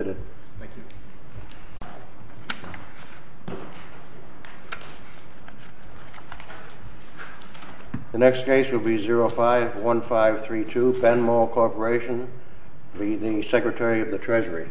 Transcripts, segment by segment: The next case will be 05-1532, Benmol Corporation v. the Secretary of the Treasury.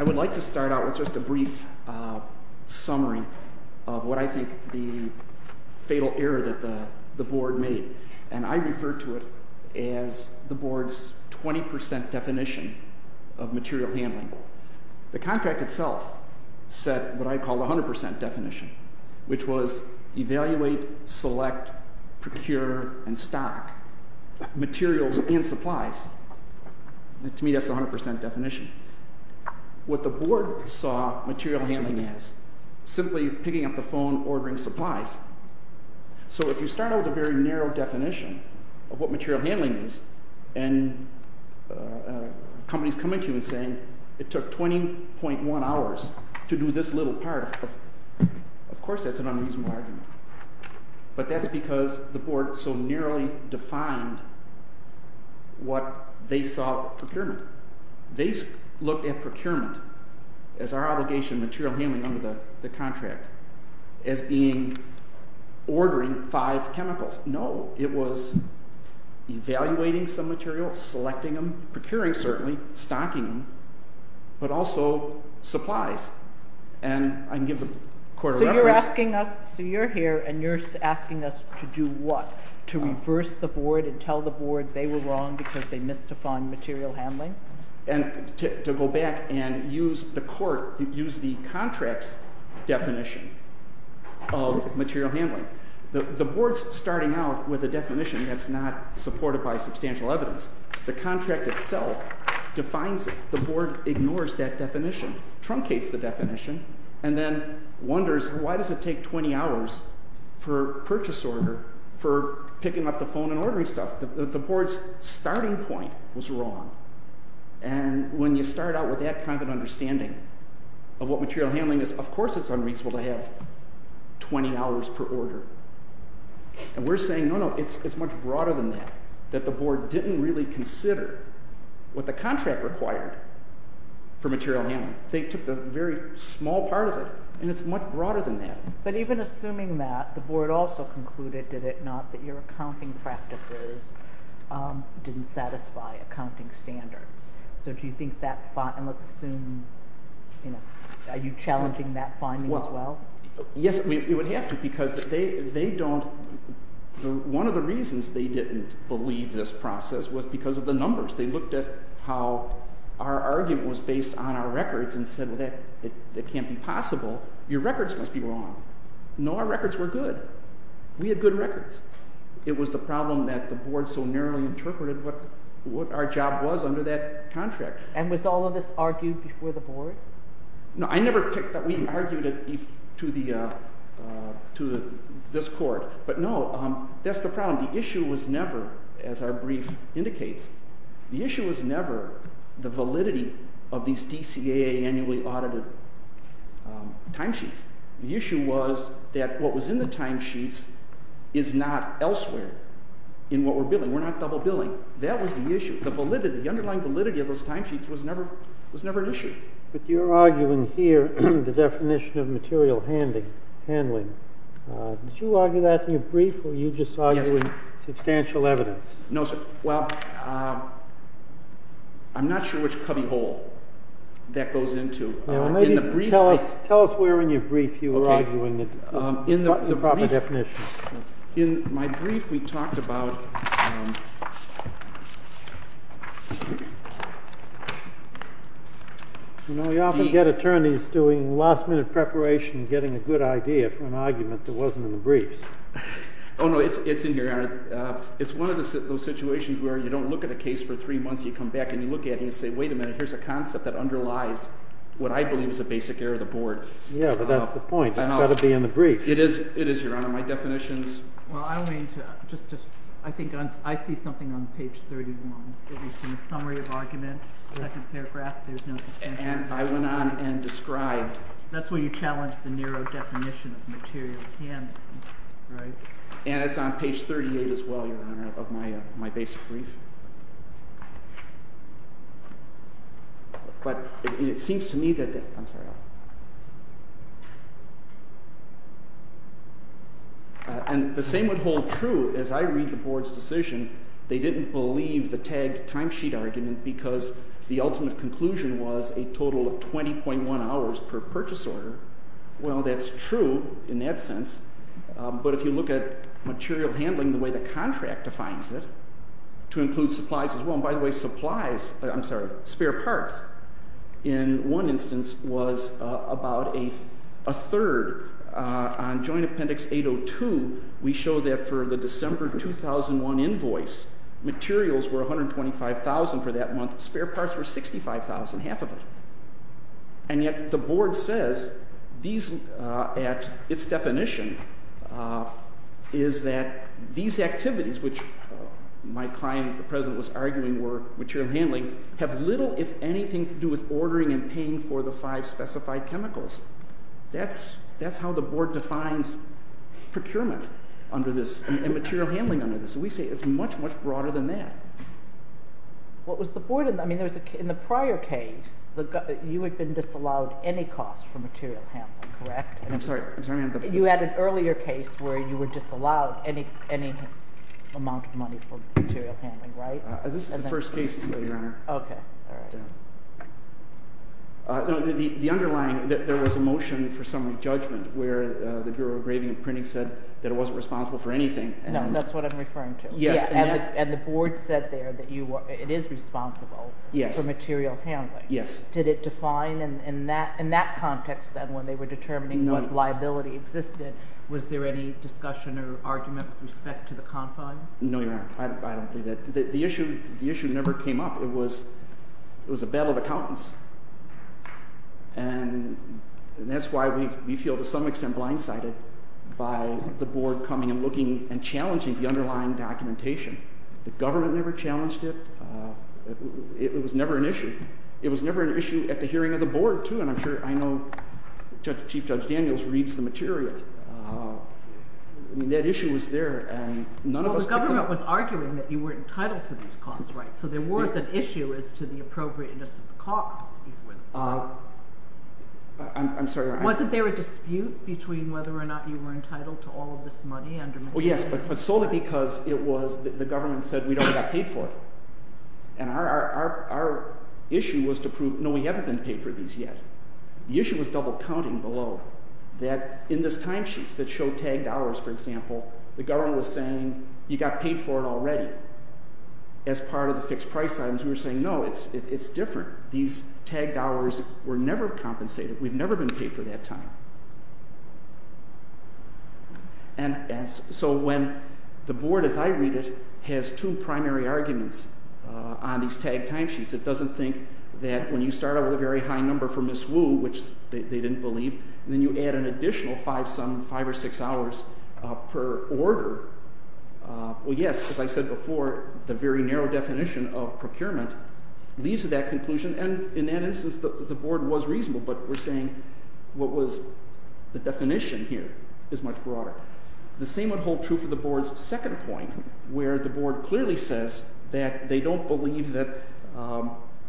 I would like to start out with just a brief summary of what I think the fatal error that the board made, and I refer to it as the board's 20% definition of material handling. The contract itself set what I call the 100% definition, which was evaluate, select, procure, and stock materials and supplies. To me, that's the 100% definition. What the board saw material handling as, simply picking up the phone, ordering supplies. So if you start out with a very narrow definition of what material handling is, and companies come in to you and say, it took 20.1 hours to do this little part, of course that's an unreasonable argument. But that's because the board so nearly defined what they thought procurement. They looked at procurement as our obligation, material handling under the contract, as being ordering five chemicals. No, it was evaluating some materials, selecting them, procuring certainly, stocking them, but also supplies. And I can give the court a reference. So you're here and you're asking us to do what? To reverse the board and tell the board they were wrong because they misdefined material handling? And to go back and use the court, use the contract's definition of material handling. The board's starting out with a definition that's not supported by substantial evidence. The contract itself defines it. The board ignores that definition, truncates the definition, and then wonders, why does it take 20 hours for purchase order, for picking up the phone and ordering stuff? The board's starting point was wrong. And when you start out with that kind of an understanding of what material handling is, of course it's unreasonable to have 20 hours per order. And we're saying, no, no, it's much broader than that, that the board didn't really consider what the contract required for material handling. They took the very small part of it, and it's much broader than that. But even assuming that, the board also concluded, did it not, that your accounting practices didn't satisfy accounting standards. So do you think that – and let's assume – are you challenging that finding as well? Yes, we would have to, because they don't – one of the reasons they didn't believe this process was because of the numbers. They looked at how our argument was based on our records and said, well, that can't be possible. Your records must be wrong. No, our records were good. We had good records. It was the problem that the board so narrowly interpreted what our job was under that contract. No, I never picked – we argued it to this court, but no, that's the problem. The issue was never, as our brief indicates, the issue was never the validity of these DCAA annually audited timesheets. The issue was that what was in the timesheets is not elsewhere in what we're billing. We're not double billing. That was the issue. The validity, the underlying validity of those timesheets was never an issue. But you're arguing here the definition of material handling. Did you argue that in your brief, or are you just arguing substantial evidence? No, sir. Well, I'm not sure which cubbyhole that goes into. Tell us where in your brief you were arguing the proper definition. In my brief, we talked about – You know, you often get attorneys doing last-minute preparation and getting a good idea for an argument that wasn't in the briefs. Oh, no, it's in here, Your Honor. It's one of those situations where you don't look at a case for three months. You come back and you look at it and you say, wait a minute, here's a concept that underlies what I believe is a basic error of the board. Yeah, but that's the point. It's got to be in the brief. It is, Your Honor. My definitions – Well, I think I see something on page 31. It's in the summary of argument, second paragraph. There's no – And I went on and described – That's where you challenged the narrow definition of material handling, right? And it's on page 38 as well, Your Honor, of my basic brief. But it seems to me that – I'm sorry. And the same would hold true as I read the board's decision. They didn't believe the tagged timesheet argument because the ultimate conclusion was a total of 20.1 hours per purchase order. Well, that's true in that sense. But if you look at material handling the way the contract defines it, to include supplies as well – and by the way, supplies – I'm sorry, spare parts in one instance was about a third. On Joint Appendix 802, we show that for the December 2001 invoice, materials were 125,000 for that month. Spare parts were 65,000, half of it. And yet the board says these, at its definition, is that these activities, which my client, the President, was arguing were material handling, have little, if anything, to do with ordering and paying for the five specified chemicals. That's how the board defines procurement under this and material handling under this. So we say it's much, much broader than that. What was the board – I mean, in the prior case, you had been disallowed any cost for material handling, correct? I'm sorry. I'm sorry. You had an earlier case where you were disallowed any amount of money for material handling, right? This is the first case, Your Honor. Okay. All right. The underlying – there was a motion for summary judgment where the Bureau of Graving and Printing said that it wasn't responsible for anything. No, that's what I'm referring to. Yes. And the board said there that it is responsible for material handling. Yes. Did it define in that context, then, when they were determining what liability existed, was there any discussion or argument with respect to the confines? No, Your Honor. I don't believe that. The issue never came up. It was a battle of accountants. And that's why we feel to some extent blindsided by the board coming and looking and challenging the underlying documentation. The government never challenged it. It was never an issue. It was never an issue at the hearing of the board, too, and I'm sure I know Chief Judge Daniels reads the material. I mean, that issue was there, and none of us picked it up. The government was arguing that you were entitled to these costs, right? So there was an issue as to the appropriateness of the costs, if you will. I'm sorry. Wasn't there a dispute between whether or not you were entitled to all of this money? Oh, yes, but solely because it was – the government said we'd only got paid for it, and our issue was to prove, no, we haven't been paid for these yet. The issue was double-counting below, that in this timesheet that showed tagged hours, for example, the government was saying you got paid for it already. As part of the fixed price items, we were saying, no, it's different. These tagged hours were never compensated. We've never been paid for that time. And so when the board, as I read it, has two primary arguments on these tagged timesheets, it doesn't think that when you start out with a very high number for Ms. Wu, which they didn't believe, and then you add an additional five or six hours per order, well, yes, as I said before, the very narrow definition of procurement leads to that conclusion. And in that instance, the board was reasonable, but we're saying what was the definition here is much broader. The same would hold true for the board's second point, where the board clearly says that they don't believe that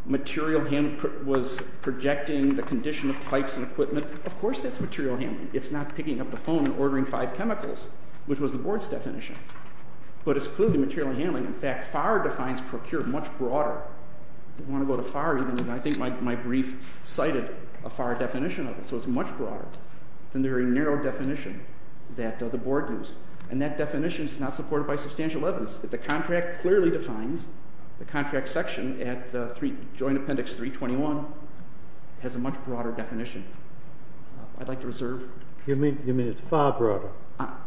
material handling was projecting the condition of pipes and equipment. Of course that's material handling. It's not picking up the phone and ordering five chemicals, which was the board's definition. But it's clearly material handling. In fact, FAR defines procure much broader. I think my brief cited a FAR definition of it. So it's much broader than the very narrow definition that the board used. And that definition is not supported by substantial evidence. But the contract clearly defines the contract section at joint appendix 321 has a much broader definition. I'd like to reserve. You mean it's far broader?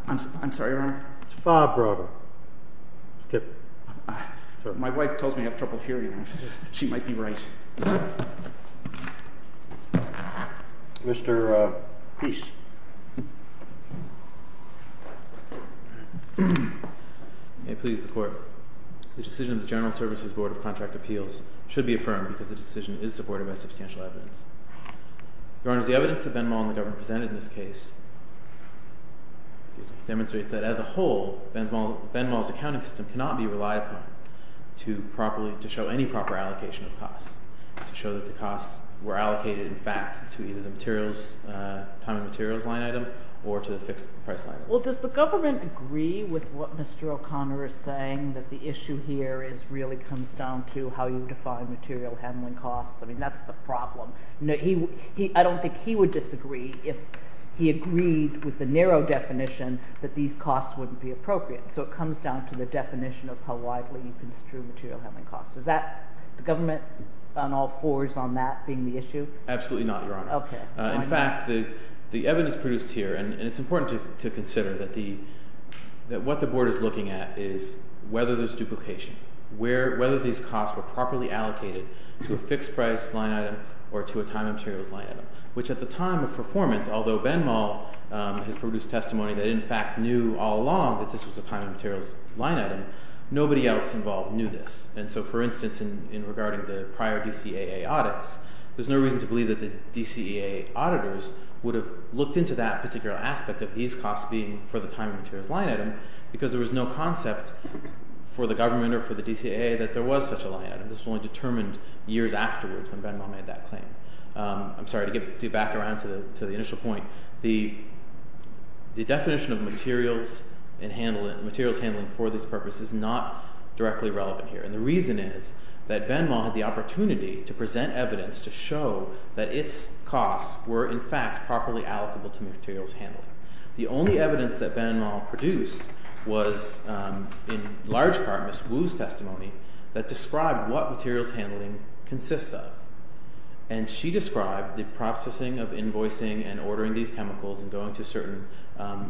I'm sorry, Your Honor? It's far broader. Skip. My wife tells me I have trouble hearing. She might be right. Mr. Peace. May it please the court. The decision of the General Services Board of Contract Appeals should be affirmed because the decision is supported by substantial evidence. Your Honor, the evidence that Benmal and the government presented in this case demonstrates that as a whole, Benmal's accounting system cannot be relied upon to show any proper allocation of costs, to show that the costs were allocated in fact to either the time and materials line item or to the fixed price item. Well, does the government agree with what Mr. O'Connor is saying, that the issue here really comes down to how you define material handling costs? I mean, that's the problem. I don't think he would disagree if he agreed with the narrow definition that these costs wouldn't be appropriate. So it comes down to the definition of how widely you construe material handling costs. Is that the government on all fours on that being the issue? Absolutely not, Your Honor. Okay. In fact, the evidence produced here, and it's important to consider that what the board is looking at is whether there's duplication, whether these costs were properly allocated to a fixed price line item or to a time and materials line item, which at the time of performance, although Benmal has produced testimony that in fact knew all along that this was a time and materials line item, nobody else involved knew this. And so, for instance, in regarding the prior DCAA audits, there's no reason to believe that the DCAA auditors would have looked into that particular aspect of these costs being for the time and materials line item because there was no concept for the government or for the DCAA that there was such a line item. This was only determined years afterwards when Benmal made that claim. I'm sorry to get you back around to the initial point. The definition of materials and materials handling for this purpose is not directly relevant here. And the reason is that Benmal had the opportunity to present evidence to show that its costs were in fact properly allocable to materials handling. The only evidence that Benmal produced was in large part Ms. Wu's testimony that described what materials handling consists of. And she described the processing of invoicing and ordering these chemicals and going to certain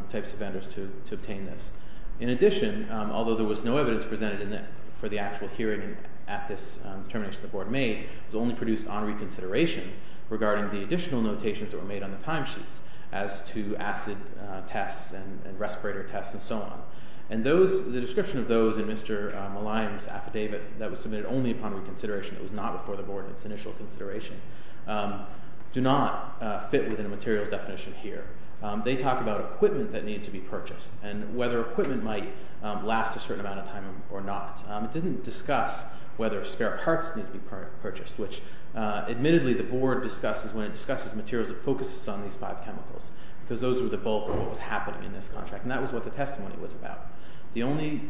types of vendors to obtain this. In addition, although there was no evidence presented for the actual hearing at this determination the board made, it was only produced on reconsideration regarding the additional notations that were made on the timesheets as to acid tests and respirator tests and so on. And the description of those in Mr. Maliam's affidavit that was submitted only upon reconsideration, it was not before the board in its initial consideration, do not fit within the materials definition here. They talk about equipment that needed to be purchased and whether equipment might last a certain amount of time or not. It didn't discuss whether spare parts needed to be purchased, which admittedly the board discusses when it discusses materials that focuses on these five chemicals because those were the bulk of what was happening in this contract. And that was what the testimony was about. The only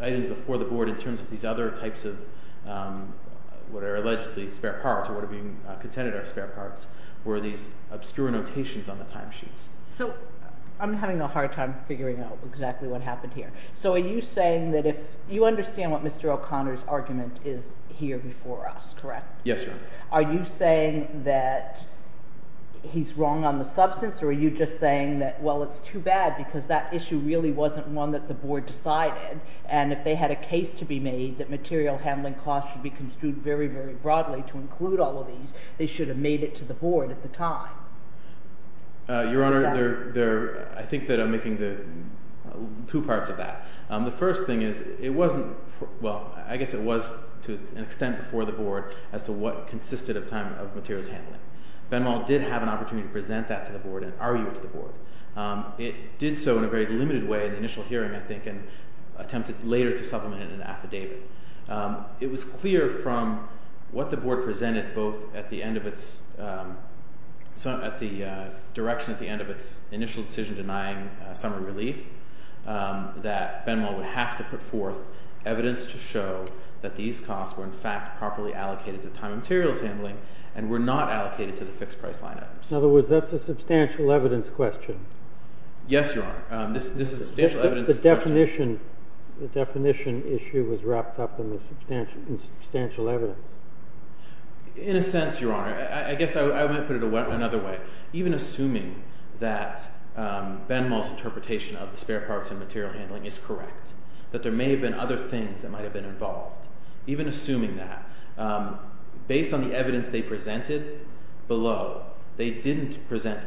items before the board in terms of these other types of what are allegedly spare parts or what are being contended are spare parts were these obscure notations on the timesheets. So I'm having a hard time figuring out exactly what happened here. So are you saying that if you understand what Mr. O'Connor's argument is here before us, correct? Yes. Are you saying that he's wrong on the substance or are you just saying that, well, it's too bad because that issue really wasn't one that the board decided. And if they had a case to be made that material handling costs should be construed very, very broadly to include all of these, they should have made it to the board at the time. Your Honor, I think that I'm making two parts of that. The first thing is it wasn't—well, I guess it was to an extent before the board as to what consisted of time of materials handling. Benmal did have an opportunity to present that to the board and argue it to the board. It did so in a very limited way in the initial hearing, I think, and attempted later to supplement it in an affidavit. It was clear from what the board presented both at the end of its—at the direction at the end of its initial decision denying summary relief that Benmal would have to put forth evidence to show that these costs were in fact properly allocated to time of materials handling and were not allocated to the fixed price line items. In other words, that's a substantial evidence question. Yes, Your Honor. This is a substantial evidence question. The definition—the definition issue was wrapped up in the substantial evidence. In a sense, Your Honor, I guess I might put it another way. Even assuming that Benmal's interpretation of the spare parts and material handling is correct, that there may have been other things that might have been involved, even assuming that, based on the evidence they presented below, they didn't present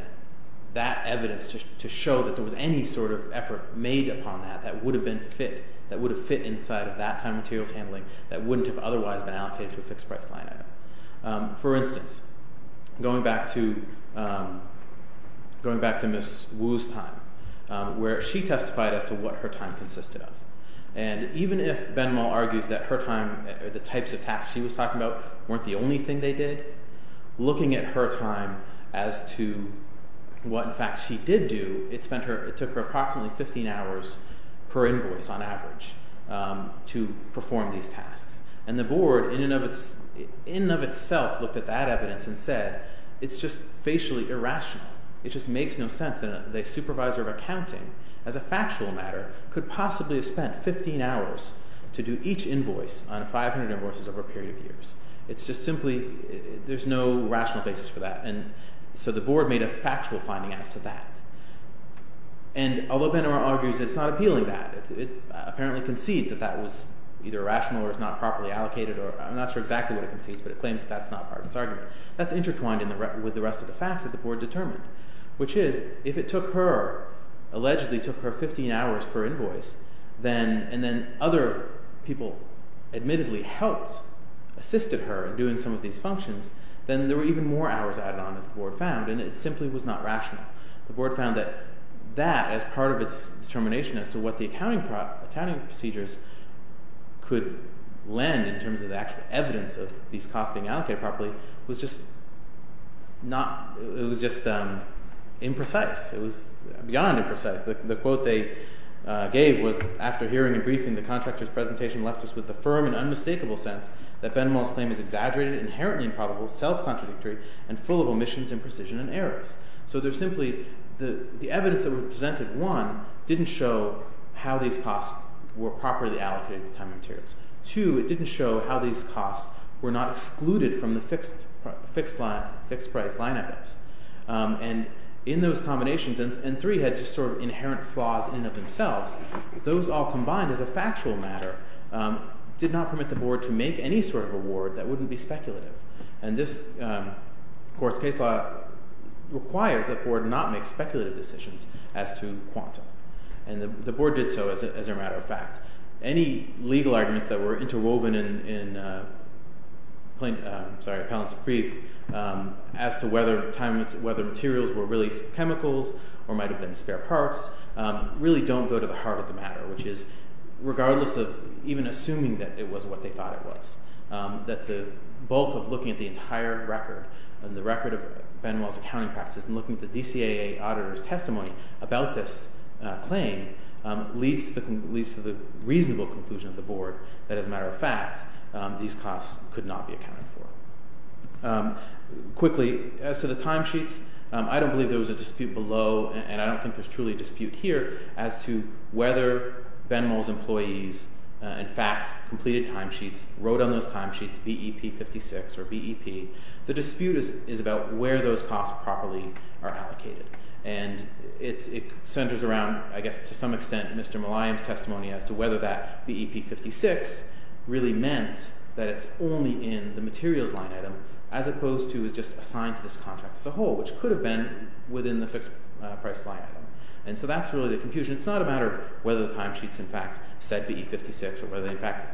that evidence to show that there was any sort of effort made upon that that would have been fit—that would have fit inside of that time of materials handling that wouldn't have otherwise been allocated to a fixed price line item. For instance, going back to—going back to Ms. Wu's time, where she testified as to what her time consisted of. And even if Benmal argues that her time—the types of tasks she was talking about weren't the only thing they did, looking at her time as to what, in fact, she did do, it spent her—it took her approximately 15 hours per invoice on average to perform these tasks. And the Board, in and of itself, looked at that evidence and said, it's just facially irrational. It just makes no sense that a supervisor of accounting, as a factual matter, could possibly have spent 15 hours to do each invoice on 500 invoices over a period of years. It's just simply—there's no rational basis for that. And so the Board made a factual finding as to that. And although Benmal argues it's not appealing to that, it apparently concedes that that was either irrational or it's not properly allocated or—I'm not sure exactly what it concedes, but it claims that that's not part of its argument. That's intertwined with the rest of the facts that the Board determined, which is, if it took her—allegedly took her 15 hours per invoice, then—and then other people admittedly helped, assisted her in doing some of these functions, then there were even more hours added on, as the Board found, and it simply was not rational. The Board found that that, as part of its determination as to what the accounting procedures could lend in terms of the actual evidence of these costs being allocated properly, was just not—it was just imprecise. It was beyond imprecise. The quote they gave was, after hearing and briefing, the contractor's presentation left us with the firm and unmistakable sense that Benmal's claim is exaggerated, inherently improbable, self-contradictory, and full of omissions, imprecision, and errors. So there's simply—the evidence that was presented, one, didn't show how these costs were properly allocated to time and materials. Two, it didn't show how these costs were not excluded from the fixed-price line items. And in those combinations—and three had just sort of inherent flaws in and of themselves—those all combined as a factual matter did not permit the Board to make any sort of award that wouldn't be speculative. And this court's case law requires that the Board not make speculative decisions as to quantum. And the Board did so, as a matter of fact. Any legal arguments that were interwoven in Pallant's brief as to whether materials were really chemicals or might have been spare parts really don't go to the heart of the matter, which is regardless of even assuming that it was what they thought it was. That the bulk of looking at the entire record, the record of Benmal's accounting practices, and looking at the DCAA auditor's testimony about this claim leads to the reasonable conclusion of the Board that, as a matter of fact, these costs could not be accounted for. Quickly, as to the timesheets, I don't believe there was a dispute below, and I don't think there's truly a dispute here, as to whether Benmal's employees in fact completed timesheets, wrote on those timesheets BEP 56 or BEP. The dispute is about where those costs properly are allocated. And it centers around, I guess, to some extent, Mr. Maliam's testimony as to whether that BEP 56 really meant that it's only in the materials line item, as opposed to it's just assigned to this contract as a whole, which could have been within the fixed price line item. And so that's really the confusion. It's not a matter of whether the timesheets in fact said BEP 56 or whether they in fact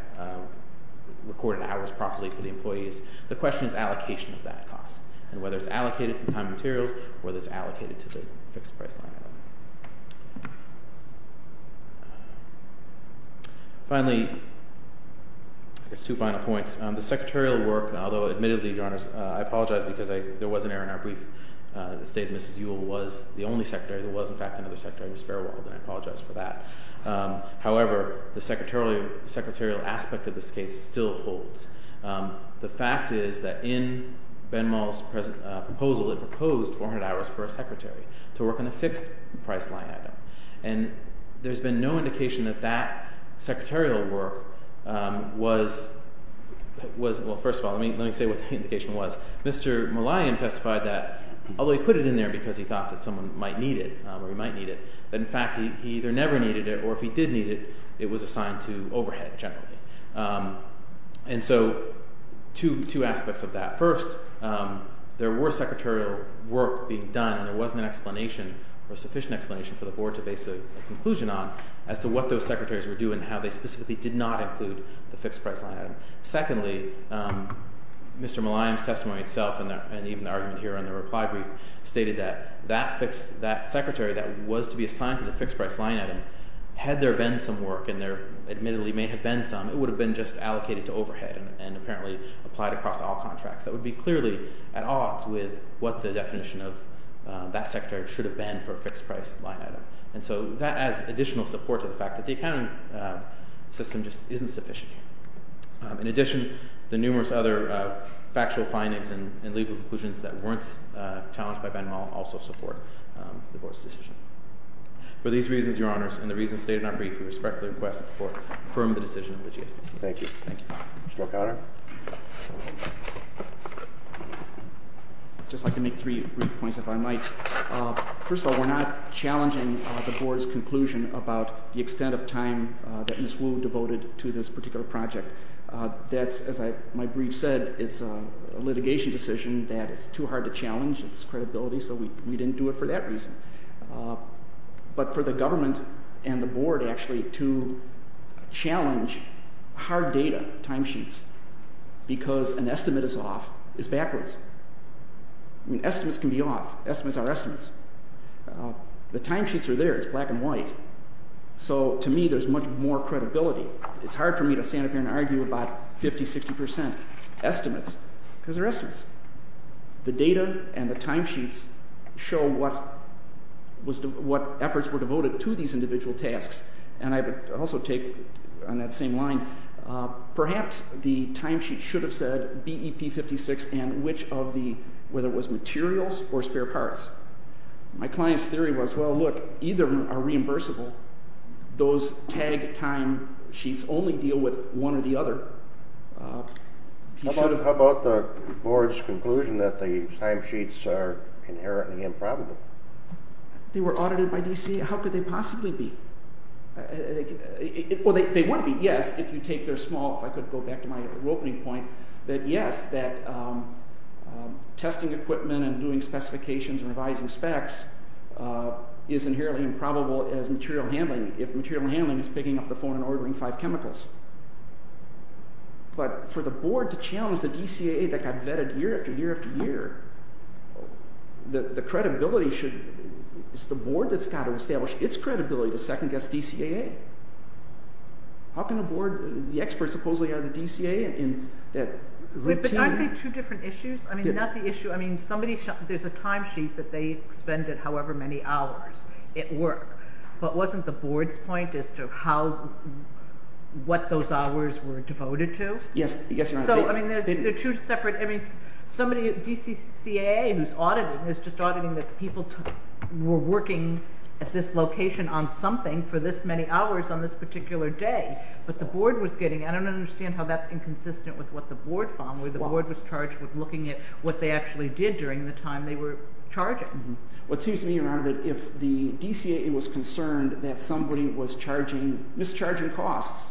recorded hours properly for the employees. The question is allocation of that cost and whether it's allocated to the time materials or whether it's allocated to the fixed price line item. Finally, I guess two final points. The secretarial work, although admittedly, Your Honors, I apologize because there was an error in our brief. The State of Mrs. Ewell was the only secretary. There was, in fact, another secretary, Ms. Fairwald, and I apologize for that. However, the secretarial aspect of this case still holds. The fact is that in Benmal's proposal, it proposed 400 hours per secretary to work on the fixed price line item. And there's been no indication that that secretarial work was—well, first of all, let me say what the indication was. Mr. Mulliam testified that although he put it in there because he thought that someone might need it or he might need it, that in fact he either never needed it or if he did need it, it was assigned to overhead generally. And so two aspects of that. First, there were secretarial work being done and there wasn't an explanation or sufficient explanation for the Board to base a conclusion on as to what those secretaries were doing and how they specifically did not include the fixed price line item. Secondly, Mr. Mulliam's testimony itself and even the argument here in the reply brief stated that that secretary that was to be assigned to the fixed price line item, had there been some work and there admittedly may have been some, it would have been just allocated to overhead and apparently applied across all contracts. That would be clearly at odds with what the definition of that secretary should have been for a fixed price line item. And so that adds additional support to the fact that the accounting system just isn't sufficient here. In addition, the numerous other factual findings and legal conclusions that weren't challenged by Ben Mull also support the Board's decision. For these reasons, Your Honors, and the reasons stated in our brief, we respectfully request that the Court confirm the decision of the GSBC. Thank you. Mr. O'Connor. It's hard data, timesheets, because an estimate is off, is backwards. Estimates can be off. Estimates are estimates. The timesheets are there. It's black and white. So, to me, there's much more credibility. It's hard for me to stand up here and argue about 50-60% estimates because they're estimates. The data and the timesheets show what efforts were devoted to these individual tasks. And I would also take on that same line, perhaps the timesheet should have said BEP 56 and which of the, whether it was materials or spare parts. My client's theory was, well, look, either are reimbursable. Those tagged timesheets only deal with one or the other. How about the Board's conclusion that the timesheets are inherently improbable? They were audited by DCA. How could they possibly be? Well, they would be, yes, if you take their small, if I could go back to my opening point, that yes, that testing equipment and doing specifications and revising specs is inherently improbable as material handling, if material handling is picking up the phone and ordering five chemicals. But for the Board to challenge the DCAA that got vetted year after year after year, the credibility should, it's the Board that's got to establish its credibility to second-guess DCAA. How can a Board, the experts supposedly are the DCAA in that routine… …however many hours it worked. But wasn't the Board's point as to how, what those hours were devoted to? Yes, I guess you're right. So, I mean, they're two separate, I mean, somebody, DCAA who's auditing, is just auditing that people were working at this location on something for this many hours on this particular day. But the Board was getting, I don't understand how that's inconsistent with what the Board found, where the Board was charged with looking at what they actually did during the time they were charging. What seems to me, Your Honor, that if the DCAA was concerned that somebody was charging, mischarging costs,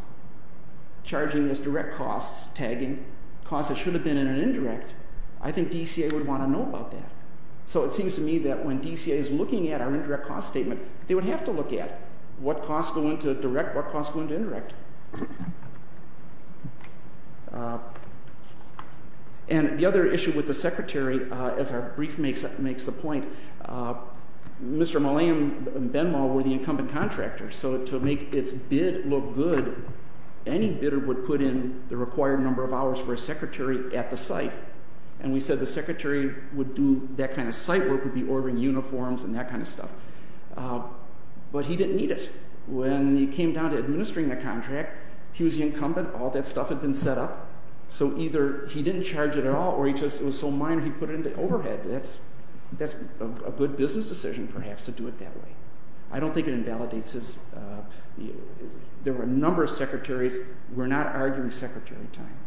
charging as direct costs, tagging costs that should have been in an indirect, I think DCAA would want to know about that. So it seems to me that when DCAA is looking at our indirect cost statement, they would have to look at what costs go into direct, what costs go into indirect. And the other issue with the Secretary, as our brief makes the point, Mr. Mulliam and Benmal were the incumbent contractors, so to make its bid look good, any bidder would put in the required number of hours for a Secretary at the site. And we said the Secretary would do that kind of site work, would be ordering uniforms and that kind of stuff. But he didn't need it. When he came down to administering the contract, he was the incumbent, all that stuff had been set up, so either he didn't charge it at all or he just, it was so minor he put it into overhead. That's a good business decision, perhaps, to do it that way. I don't think it invalidates his, there were a number of Secretaries, we're not arguing Secretary time.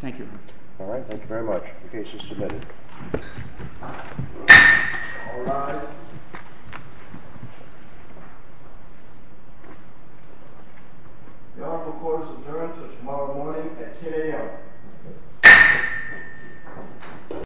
Thank you, Your Honor. All right, thank you very much. The case is submitted. All rise. The Honorable Court is adjourned until tomorrow morning at 10 a.m.